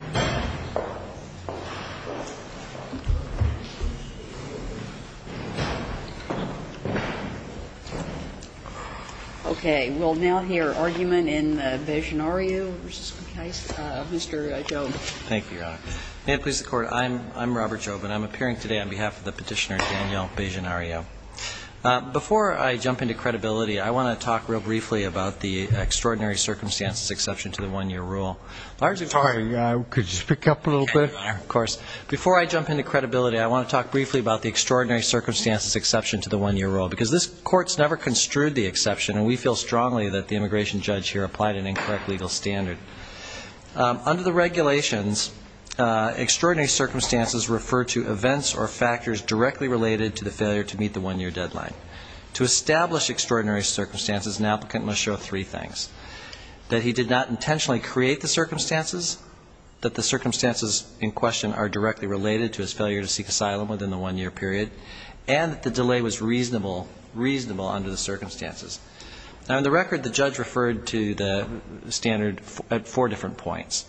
May it please the Court, I'm Robert Jobe and I'm appearing today on behalf of the petitioner Daniel Bejenariu. Before I jump into credibility, I want to talk real briefly about the extraordinary circumstances exception to the one-year rule. Before I jump into credibility, I want to talk briefly about the extraordinary circumstances exception to the one-year rule because this court's never construed the exception and we feel strongly that the immigration judge here applied an incorrect legal standard. Under the regulations, extraordinary circumstances refer to events or factors directly related to the failure to meet the one-year deadline. To establish that he did not intentionally create the circumstances, that the circumstances in question are directly related to his failure to seek asylum within the one-year period, and that the delay was reasonable under the circumstances. Now in the record, the judge referred to the standard at four different points.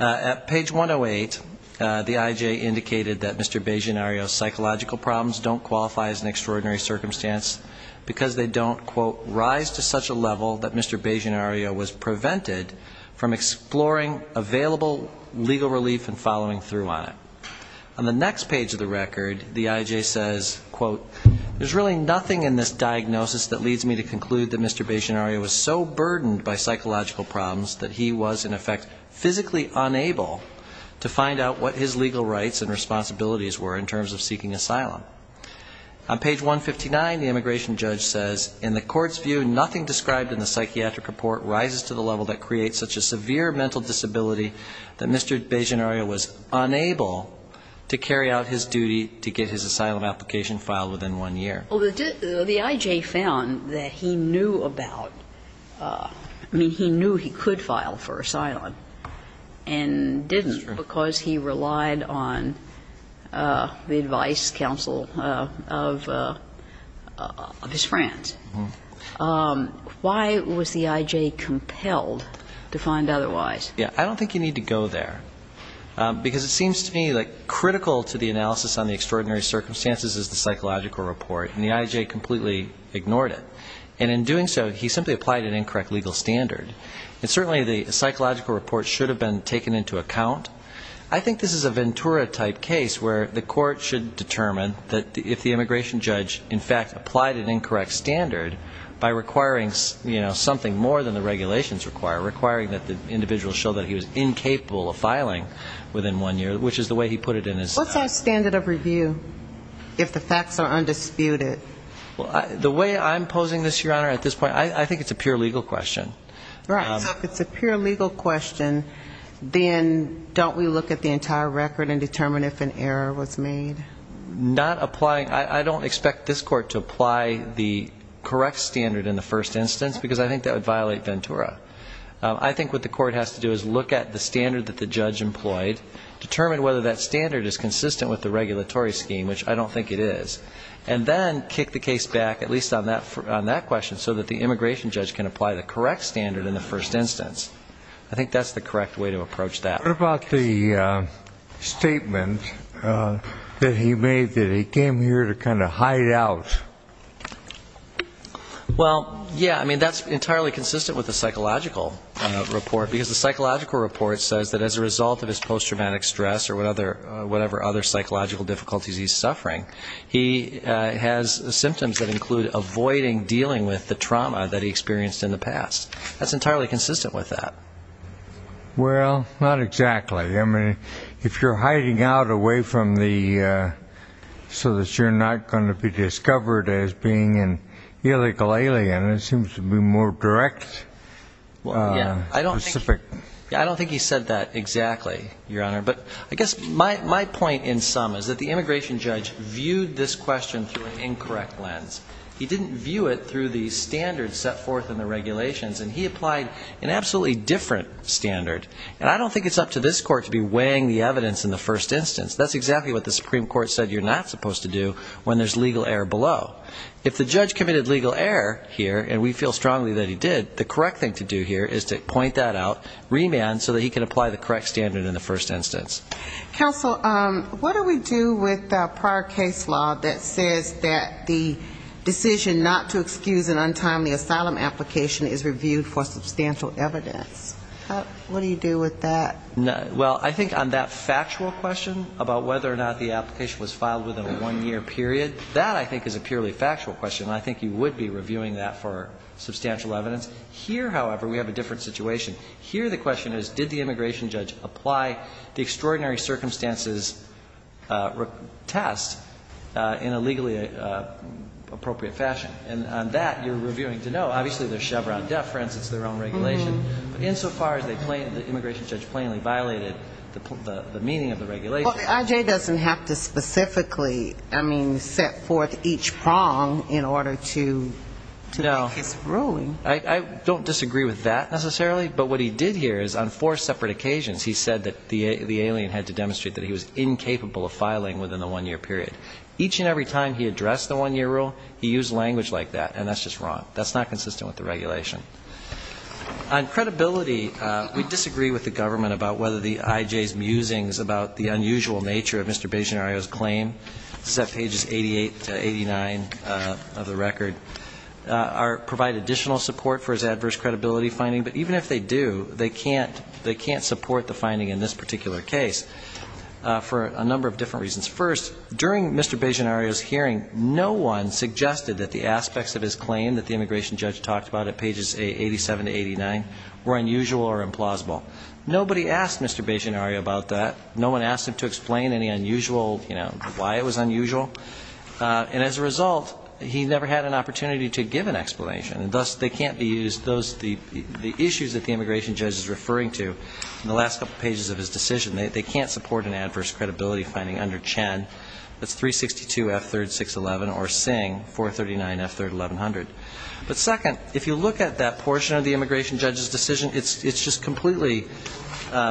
At page 108, the IJ indicated that Mr. Bejenariu's psychological problems don't qualify as an extraordinary circumstance because they don't, quote, rise to such a level that Mr. Bejenariu was prevented from exploring available legal relief and following through on it. On the next page of the record, the IJ says, quote, there's really nothing in this diagnosis that leads me to conclude that Mr. Bejenariu was so burdened by psychological problems that he was in effect physically unable to find out what his legal rights and responsibilities were in terms of seeking asylum. On page 159, the immigration judge says, in the court's view, nothing described in the record goes to the level that creates such a severe mental disability that Mr. Bejenariu was unable to carry out his duty to get his asylum application filed within one year. Well, the IJ found that he knew about, I mean, he knew he could file for asylum and didn't because he relied on the advice, counsel, of his friends. Why was the IJ compelled to find otherwise? Yeah, I don't think you need to go there. Because it seems to me like critical to the analysis on the extraordinary circumstances is the psychological report, and the IJ completely ignored it. And in doing so, he simply applied an incorrect legal standard. And certainly the psychological report should have been taken into account. I think this is a Ventura-type case where the court should determine that if the immigration judge, in fact, applied an incorrect standard by requiring, you know, something more than the regulations require, requiring that the individual show that he was incapable of filing within one year, which is the way he put it in his What's our standard of review if the facts are undisputed? Well, the way I'm posing this, Your Honor, at this point, I think it's a pure legal question. Right. So if it's a pure legal question, then don't we look at the entire record and determine if an error was made? Not applying. I don't expect this court to apply the correct standard in the first instance, because I think that would violate Ventura. I think what the court has to do is look at the standard that the judge employed, determine whether that standard is consistent with the regulatory scheme, which I don't think it is, and then kick the case back, at least on that question, so that the immigration judge can apply the correct standard in the first instance. I think that's the correct way to approach that. What about the statement that he made that he came here to kind of hide out? Well, yeah, I mean, that's entirely consistent with the psychological report, because the psychological report says that as a result of his post-traumatic stress or whatever other psychological difficulties he's suffering, he has symptoms that include avoiding dealing with the trauma that he experienced in the past. That's entirely consistent with that. Well, not exactly. I mean, if you're hiding out away from the, so that you're not going to be discovered as being an illegal alien, it seems to be more direct. Well, yeah, I don't think he said that exactly, Your Honor. But I guess my point in sum is that the immigration judge viewed this question through an incorrect lens. He didn't view it through the standards set forth in the regulations, and he applied an absolutely different standard. And I don't think it's up to this court to be weighing the evidence in the first instance. That's exactly what the Supreme Court said you're not supposed to do when there's legal error below. If the judge committed legal error here, and we feel strongly that he did, the correct thing to do here is to point that out, remand, so that he can apply the correct standard in the first instance. Counsel, what do we do with the prior case law that says that the decision not to excuse an untimely asylum application is reviewed for substantial evidence? What do you do with that? Well, I think on that factual question about whether or not the application was filed within a one-year period, that, I think, is a purely factual question. I think you would be reviewing that for substantial evidence. Here, however, we have a different situation. Here, the question is, did the immigration judge apply the extraordinary circumstances test in a legally appropriate fashion? And on that, you're reviewing to know. Obviously, there's Chevron deference. It's their own regulation. But insofar as they plainly, the immigration judge plainly violated the meaning of the regulation. Well, I.J. doesn't have to specifically, I mean, set forth each prong in order to make his ruling. I don't disagree with that, necessarily. But what he did here is, on four separate occasions, he said that the alien had to demonstrate that he was incapable of filing within the one-year period. Each and every time he addressed the one-year rule, he used language like that. And that's just wrong. That's not consistent with the regulation. On credibility, we disagree with the government about whether the I.J.'s musings about the unusual nature of Mr. Bagginario's claim, set pages 88 to 89 of the record, provide additional support for his adverse credibility finding. But even if they do, they can't support the finding in this particular case for a number of different reasons. First, during Mr. Bagginario's hearing, no one suggested that the aspects of his claim that the immigration judge talked about at pages 87 to 89 were unusual or implausible. Nobody asked Mr. Bagginario about that. No one asked him to explain any unusual, you know, why it was unusual. And as a result, he never had an opportunity to give an explanation. And thus, they can't be used, those, the issues that the immigration judge is referring to, in the last couple pages of his decision, they can't support an adverse credibility finding under Chen, that's 362 F. 3rd. 611, or Singh, 439 F. 3rd. 1100. But second, if you look at that portion of the immigration judge's decision, it's just completely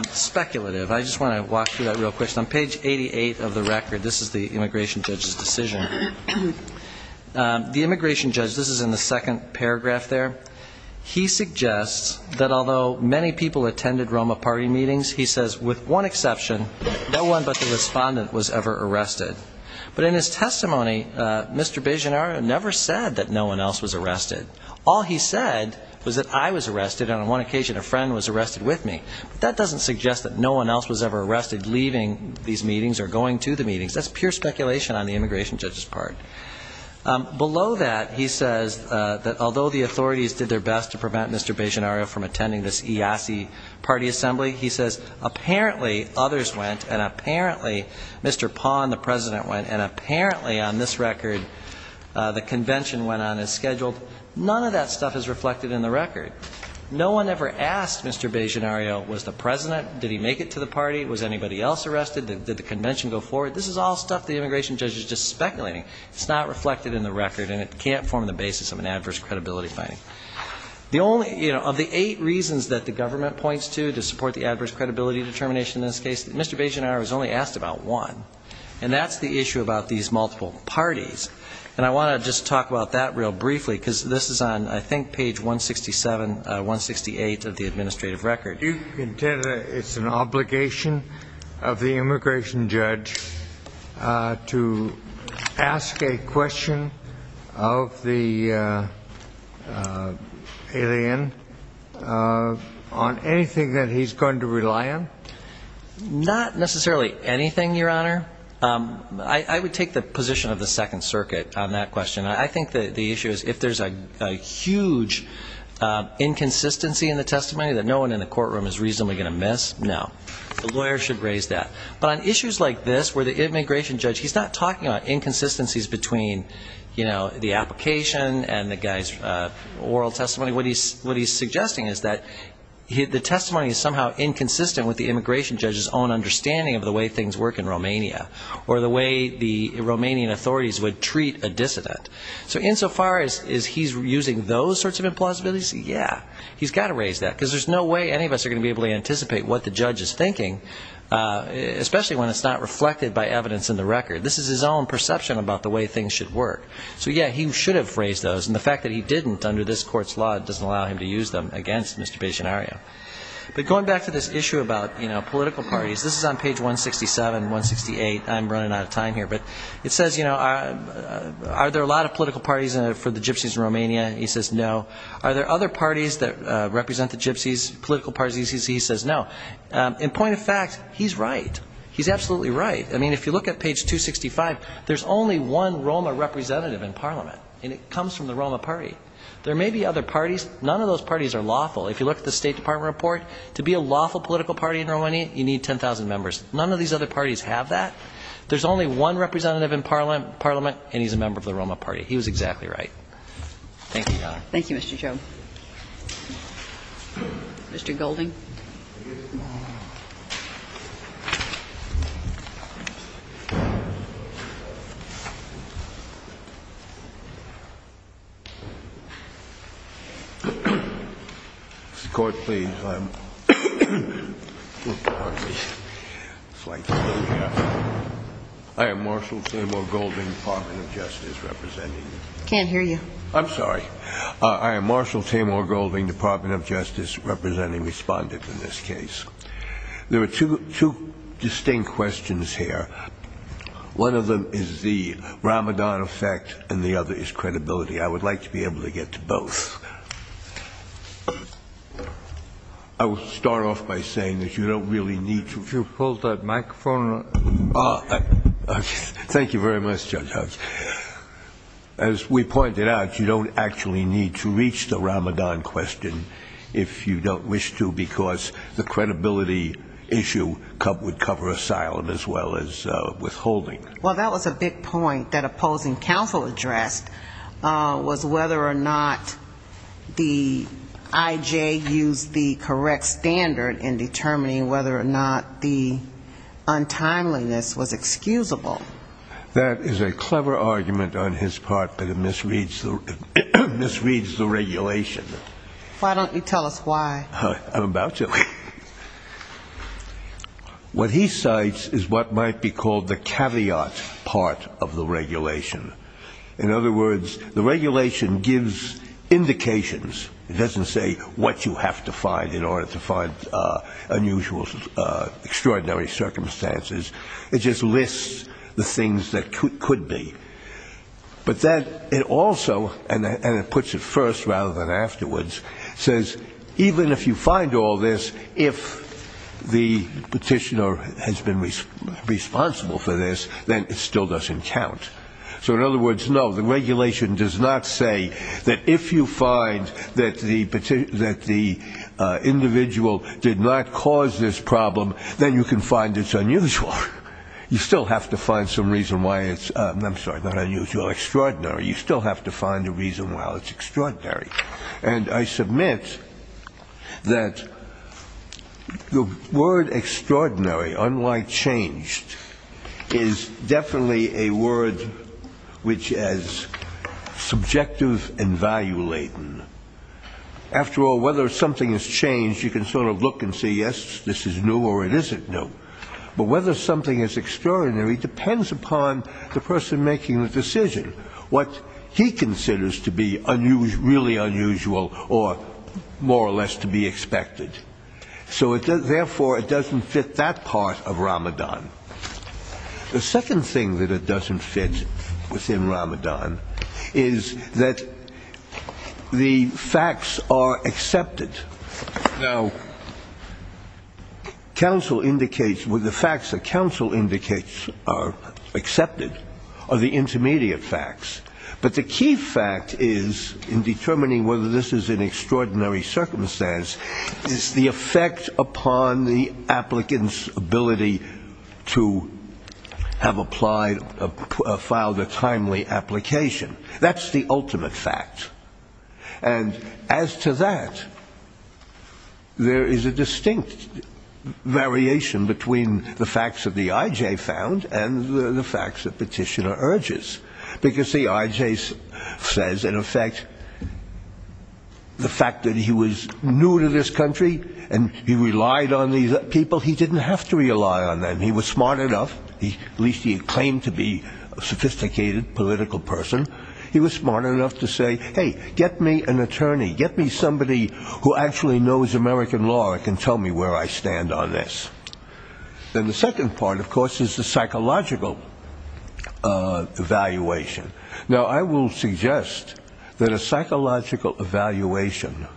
speculative. I just want to walk through that real quick. First, on page 88 of the record, this is the immigration judge's decision. The immigration judge, this is in the second paragraph there, he suggests that although many people attended ROMA party meetings, he says, with one exception, no one but the respondent was ever arrested. But in his testimony, Mr. Bagginario never said that no one else was arrested. All he said was that I was arrested, and on one occasion, a friend was arrested with me. But that doesn't suggest that no one else was ever attending these meetings or going to the meetings. That's pure speculation on the immigration judge's part. Below that, he says that although the authorities did their best to prevent Mr. Bagginario from attending this IASI party assembly, he says, apparently, others went, and apparently, Mr. Pond, the president, went, and apparently, on this record, the convention went on as scheduled. None of that stuff is reflected in the record. No one ever asked Mr. Bagginario, was the president, did he make it to the party, was anybody else arrested, did the convention go forward? This is all stuff the immigration judge is just speculating. It's not reflected in the record, and it can't form the basis of an adverse credibility finding. The only, you know, of the eight reasons that the government points to to support the adverse credibility determination in this case, Mr. Bagginario was only asked about one. And that's the issue about these multiple parties. And I want to just talk about that real briefly, because this is on, I think, page 167, 168 of the administrative record. Do you contend that it's an obligation of the immigration judge to ask a question of the alien on anything that he's going to rely on? Not necessarily anything, Your Honor. I would take the position of the Second Circuit on that question. I think the issue is if there's a huge inconsistency in the testimony that no one in the courtroom is reasonably going to miss, no. The lawyer should raise that. But on issues like this where the immigration judge, he's not talking about inconsistencies between, you know, the application and the guy's oral testimony. What he's suggesting is that the testimony is somehow inconsistent with the immigration judge's own understanding of the way things work in Romania, or the way the Romanian authorities would treat a dissident. So insofar as he's using those sorts of implausibilities, yeah, he's got to raise that. Because there's no way any of us are going to be able to anticipate what the judge is thinking, especially when it's not reflected by evidence in the record. This is his own perception about the way things should work. So, yeah, he should have raised those. And the fact that he on page 167, 168. I'm running out of time here. But it says, you know, are there a lot of political parties for the Gypsies in Romania? He says no. Are there other parties that represent the Gypsies, political parties? He says no. In point of fact, he's right. He's absolutely right. I mean, if you look at page 265, there's only one Roma representative in Parliament. And it comes from the Roma party. There may be other parties. None of those parties are lawful. If you look at the State Department report, to be a lawful political party in Romania, you need 10,000 members. None of these other parties have that. There's only one representative in Parliament, and he's a member of the Roma party. He was exactly right. Thank you, Your Honor. Thank you, Mr. Chauve. Mr. Golding. Mr. Court, please. I am Marshal Samuel Golding, Department of Justice, representing you. I can't hear you. I'm sorry. I am Marshal Tamar Golding, Department of Justice, representing respondents in this case. There are two distinct questions here. One of them is the Ramadan effect, and the other is credibility. I would like to be able to get to both. I will start off by saying that you don't really need to... Could you hold that microphone? Thank you very much, Judge Hobbs. As we pointed out, you don't actually need to reach the Ramadan question if you don't wish to, because the credibility issue would cover asylum as well as withholding. Well, that was a big point that opposing counsel addressed, was whether or not the IJ used the correct standard in determining whether or not the untimeliness was excusable. That is a clever argument on his part, but it misreads the regulation. Why don't you tell us why? I'm about to. What he cites is what might be called the caveat part of the regulation. In other words, the regulation gives indications. It doesn't say what you have to find in order to find unusual, extraordinary circumstances. It just lists the things that could be. But then it also, and it puts it first rather than afterwards, says even if you find all this, if the petitioner has been responsible for this, then it still doesn't count. So in other words, no, the regulation does not say that if you find that the individual did not cause this problem, then you can find it unusual. You still have to find some reason why it's, I'm sorry, not unusual, extraordinary. You still have to find a reason why it's extraordinary. And I submit that the word extraordinary, unlike changed, is definitely a word which is subjective and value-laden. After all, whether something is changed, you can sort of look and say, yes, this is new or it isn't new. But whether something is extraordinary depends upon the person making the decision, what he considers to be really unusual or more or less to be expected. So therefore, it doesn't fit that part of Ramadan. The second thing that it doesn't fit within Ramadan is that the facts are accepted. Now, the facts that counsel indicates are accepted are the intermediate facts. But the key fact is, in determining whether this is an extraordinary circumstance, is the effect upon the applicant's ability to have applied, filed a timely application. That's the ultimate fact. And as to that, there is a distinct variation between the facts that the IJ found and the facts that petitioner urges. Because the IJ says, in effect, the fact that he was new to this country and he relied on these people, he didn't have to rely on them. He was smart enough. At least he claimed to be a sophisticated political person. He was smart enough to say, hey, get me an attorney. Get me somebody who actually knows American law and can tell me where I stand on this. And the second part, of course, is the psychological evaluation. Now, I will suggest that a psychological evaluation,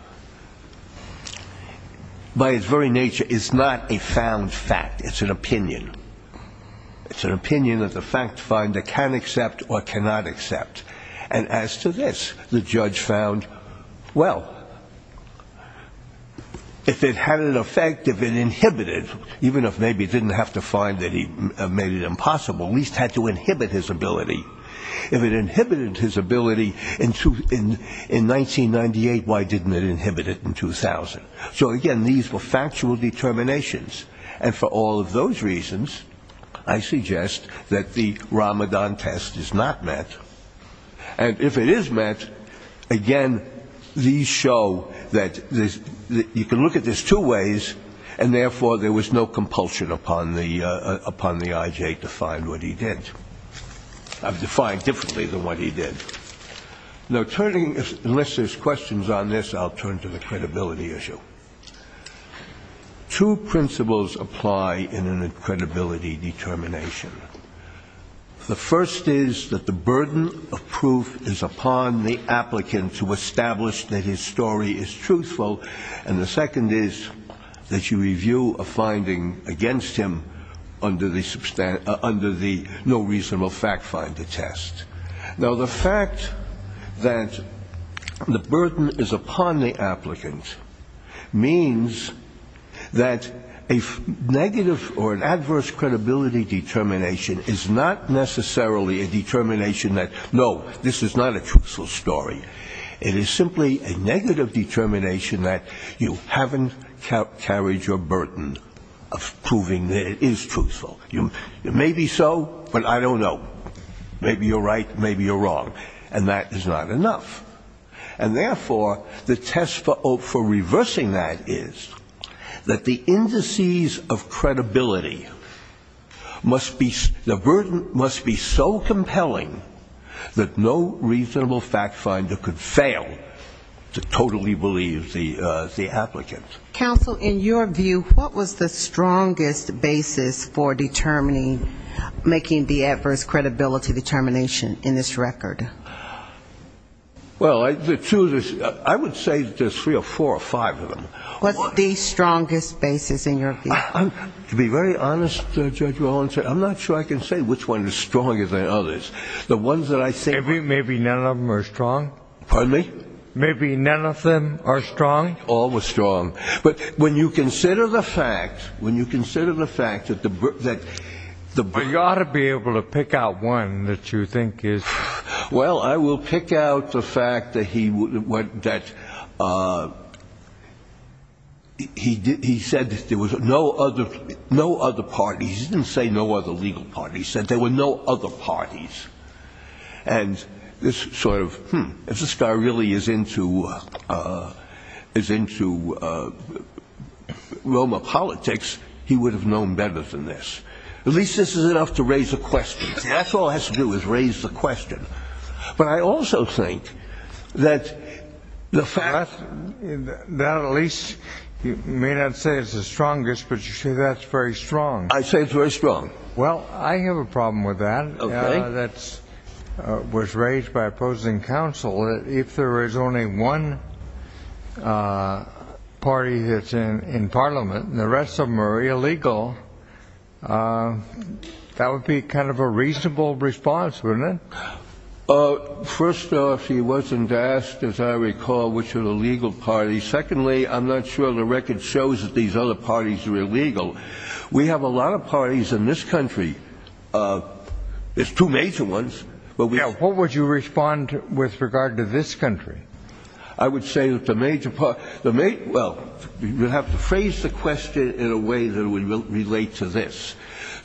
by its very nature, is not a found fact. It's an opinion. It's an opinion that the fact finder can accept or cannot accept. And as to this, the judge found, well, if it had an effect, if it inhibited, even if maybe it didn't have to find that he made it impossible, at least had to inhibit his ability. If it inhibited his ability in 1998, why didn't it inhibit it in 2000? So, again, these were factual determinations. And for all of those reasons, I suggest that the Ramadan test is not met. And if it is met, again, these show that you can look at this two ways, and therefore there was no compulsion upon the I.J. to find what he did. I've defined differently than what he did. Now, turning, unless there's questions on this, I'll turn to the credibility issue. Two principles apply in a credibility determination. The first is that the burden of proof is upon the applicant to establish that his story is truthful. And the second is that you review a finding against him under the no reasonable fact finder test. Now, the fact that the burden is upon the applicant means that a negative or an adverse credibility determination is not necessarily a determination that, no, this is not a truthful story. It is simply a negative determination that you haven't carried your burden of proving that it is truthful. Maybe so, but I don't know. Maybe you're right, maybe you're wrong. And that is not enough. And, therefore, the test for reversing that is that the indices of credibility must be so compelling that no reasonable fact finder could fail to totally believe the applicant. Counsel, in your view, what was the strongest basis for determining, making the adverse credibility determination in this record? Well, the two, I would say there's three or four or five of them. What's the strongest basis in your view? To be very honest, Judge Walensky, I'm not sure I can say which one is stronger than others. Maybe none of them are strong? Pardon me? Maybe none of them are strong? All were strong. But when you consider the fact, when you consider the fact that the burden You ought to be able to pick out one that you think is Well, I will pick out the fact that he said there were no other parties. He didn't say no other legal parties. He said there were no other parties. And this sort of, hmm, if this guy really is into Is into Roma politics, he would have known better than this. At least this is enough to raise a question. That's all it has to do is raise the question. But I also think that the fact That at least, you may not say it's the strongest, but you say that's very strong. Well, I have a problem with that. That was raised by opposing counsel. If there is only one Party that's in Parliament And the rest of them are illegal That would be kind of a reasonable response, wouldn't it? First off, he wasn't asked, as I recall, which are the legal parties. Secondly, I'm not sure the record shows that these other parties are illegal. We have a lot of parties in this country There's two major ones, but we have What would you respond with regard to this country? I would say that the major, well, you have to phrase the question in a way that would relate to this.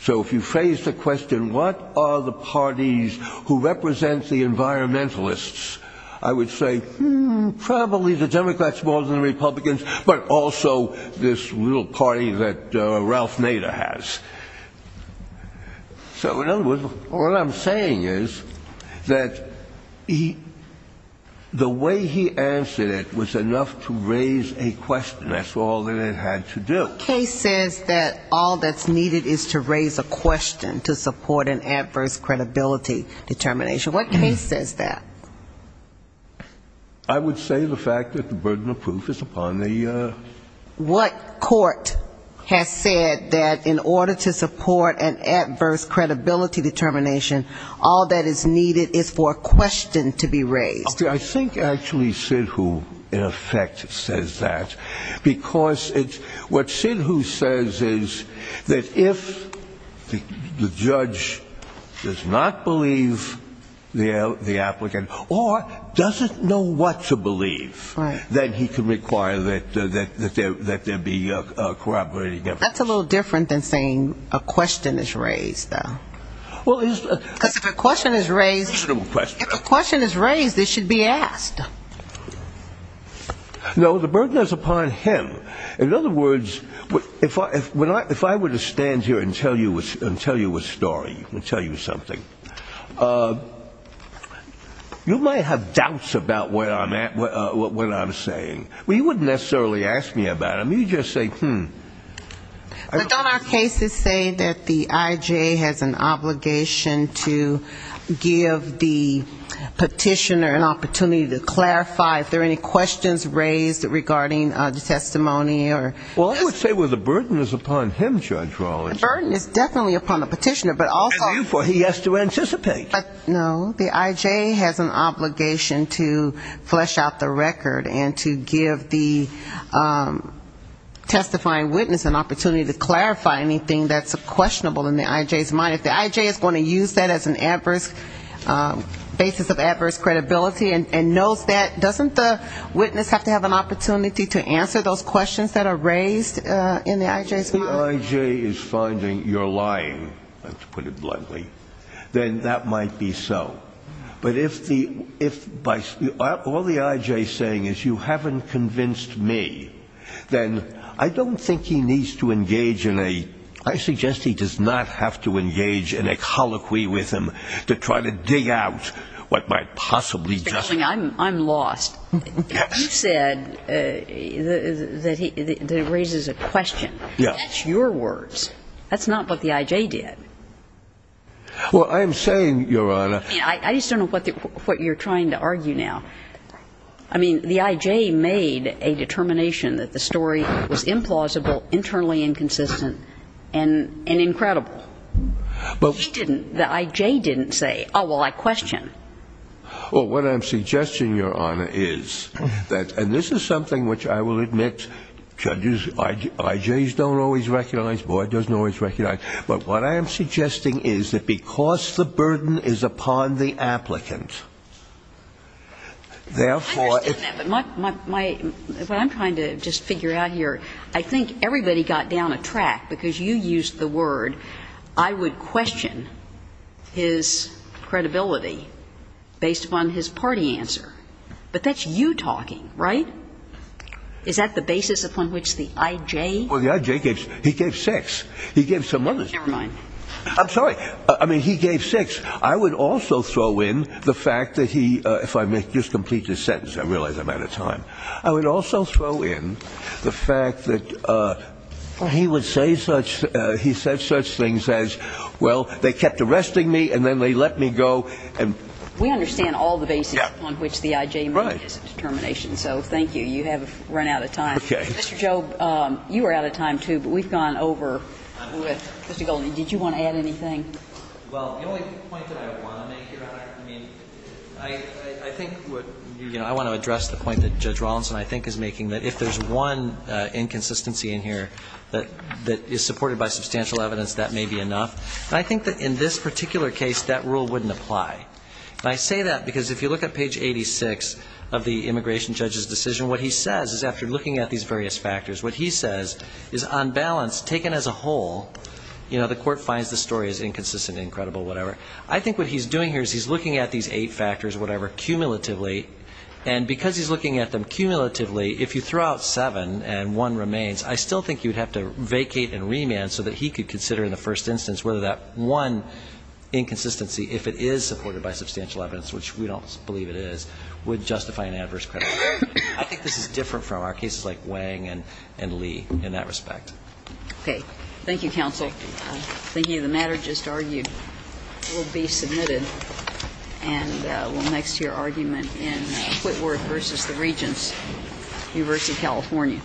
So if you phrase the question, what are the parties Who represent the environmentalists, I would say Hmm, probably the Democrats more than the Republicans, but also This little party that Ralph Nader has. So in other words, what I'm saying is That the way he answered it Was enough to raise a question. That's all that it had to do. The case says that all that's needed is to raise a question To support an adverse credibility determination. What case says that? I would say the fact that the burden of proof Is upon the What court has said that in order to support an adverse credibility determination All that is needed is for a question to be raised. Okay, I think actually Sinhu, in effect, says that Because what Sinhu says is That if the judge does not believe The applicant, or doesn't know what to believe Then he can require that there be corroborated evidence. That's a little different than saying a question is raised, though. Because if a question is raised It should be asked. No, the burden is upon him. In other words If I were to stand here and tell you a story You might have doubts About what I'm saying. Well, you wouldn't necessarily ask me about it. But don't our cases say that the I.J. has an obligation To give the petitioner an opportunity to clarify If there are any questions raised regarding the testimony? Well, I would say the burden is upon him, Judge Rawlings. The burden is definitely upon the petitioner. And therefore he has to anticipate. No, the I.J. has an obligation to flesh out the record And to give the testifying witness an opportunity To clarify anything that's questionable in the I.J.'s mind. If the I.J. is going to use that as a basis of adverse credibility And knows that, doesn't the witness have to have an opportunity If the I.J. is finding you're lying, let's put it bluntly Then that might be so. But if all the I.J. is saying is you haven't convinced me Then I don't think he needs to engage in a I suggest he does not have to engage in a colloquy with him To try to dig out what might possibly just I'm lost. You said that it raises a question. That's your words. That's not what the I.J. did. Well, I'm saying, Your Honor I just don't know what you're trying to argue now. I mean, the I.J. made a determination that the story was implausible Internally inconsistent, and incredible. But he didn't. The I.J. didn't say, oh, well, I question. Well, what I'm suggesting, Your Honor, is And this is something which I will admit judges, I.J.'s Don't always recognize, the board doesn't always recognize But what I am suggesting is that because the burden is upon the applicant I understand that, but what I'm trying to Just figure out here, I think everybody got down a track Because you used the word, I would question His credibility based upon his party answer But that's you talking, right? Is that the basis upon which the I.J. Well, the I.J. gave, he gave six. He gave some others. Never mind. I'm sorry, I mean, he gave six. I would also throw in the fact that he If I may just complete this sentence, I realize I'm out of time I would also throw in the fact that he would say such He said such things as, well, they kept arresting me and then they let me go We understand all the basis upon which the I.J. Is a determination, so thank you. You have run out of time. Mr. Job, you were out of time, too, but we've gone over Mr. Goldin, did you want to add anything? Well, the only point that I want to make, Your Honor, I mean, I think what I want to address the point that Judge Rawlinson, I think, is making That if there's one inconsistency in here that is supported By substantial evidence, that may be enough. And I think that in this particular case That rule wouldn't apply. And I say that because if you look at page 86 Of the immigration judge's decision, what he says is, after looking at these various Factors, what he says is, on balance, taken as a whole You know, the court finds the story as inconsistent, incredible, whatever. I think what he's doing Here is he's looking at these eight factors, whatever, cumulatively, and because He's looking at them cumulatively, if you throw out seven and one remains, I still Think you would have to vacate and remand so that he could consider in the first Instance whether that one inconsistency, if it is supported by substantial Evidence, which we don't believe it is, would justify an adverse credit. I think This is different from our cases like Wang and Lee in that respect. Okay. Thank you, counsel. Thinking of the matter just argued, It will be submitted and will next to your argument In Whitworth v. The Regents, University of California.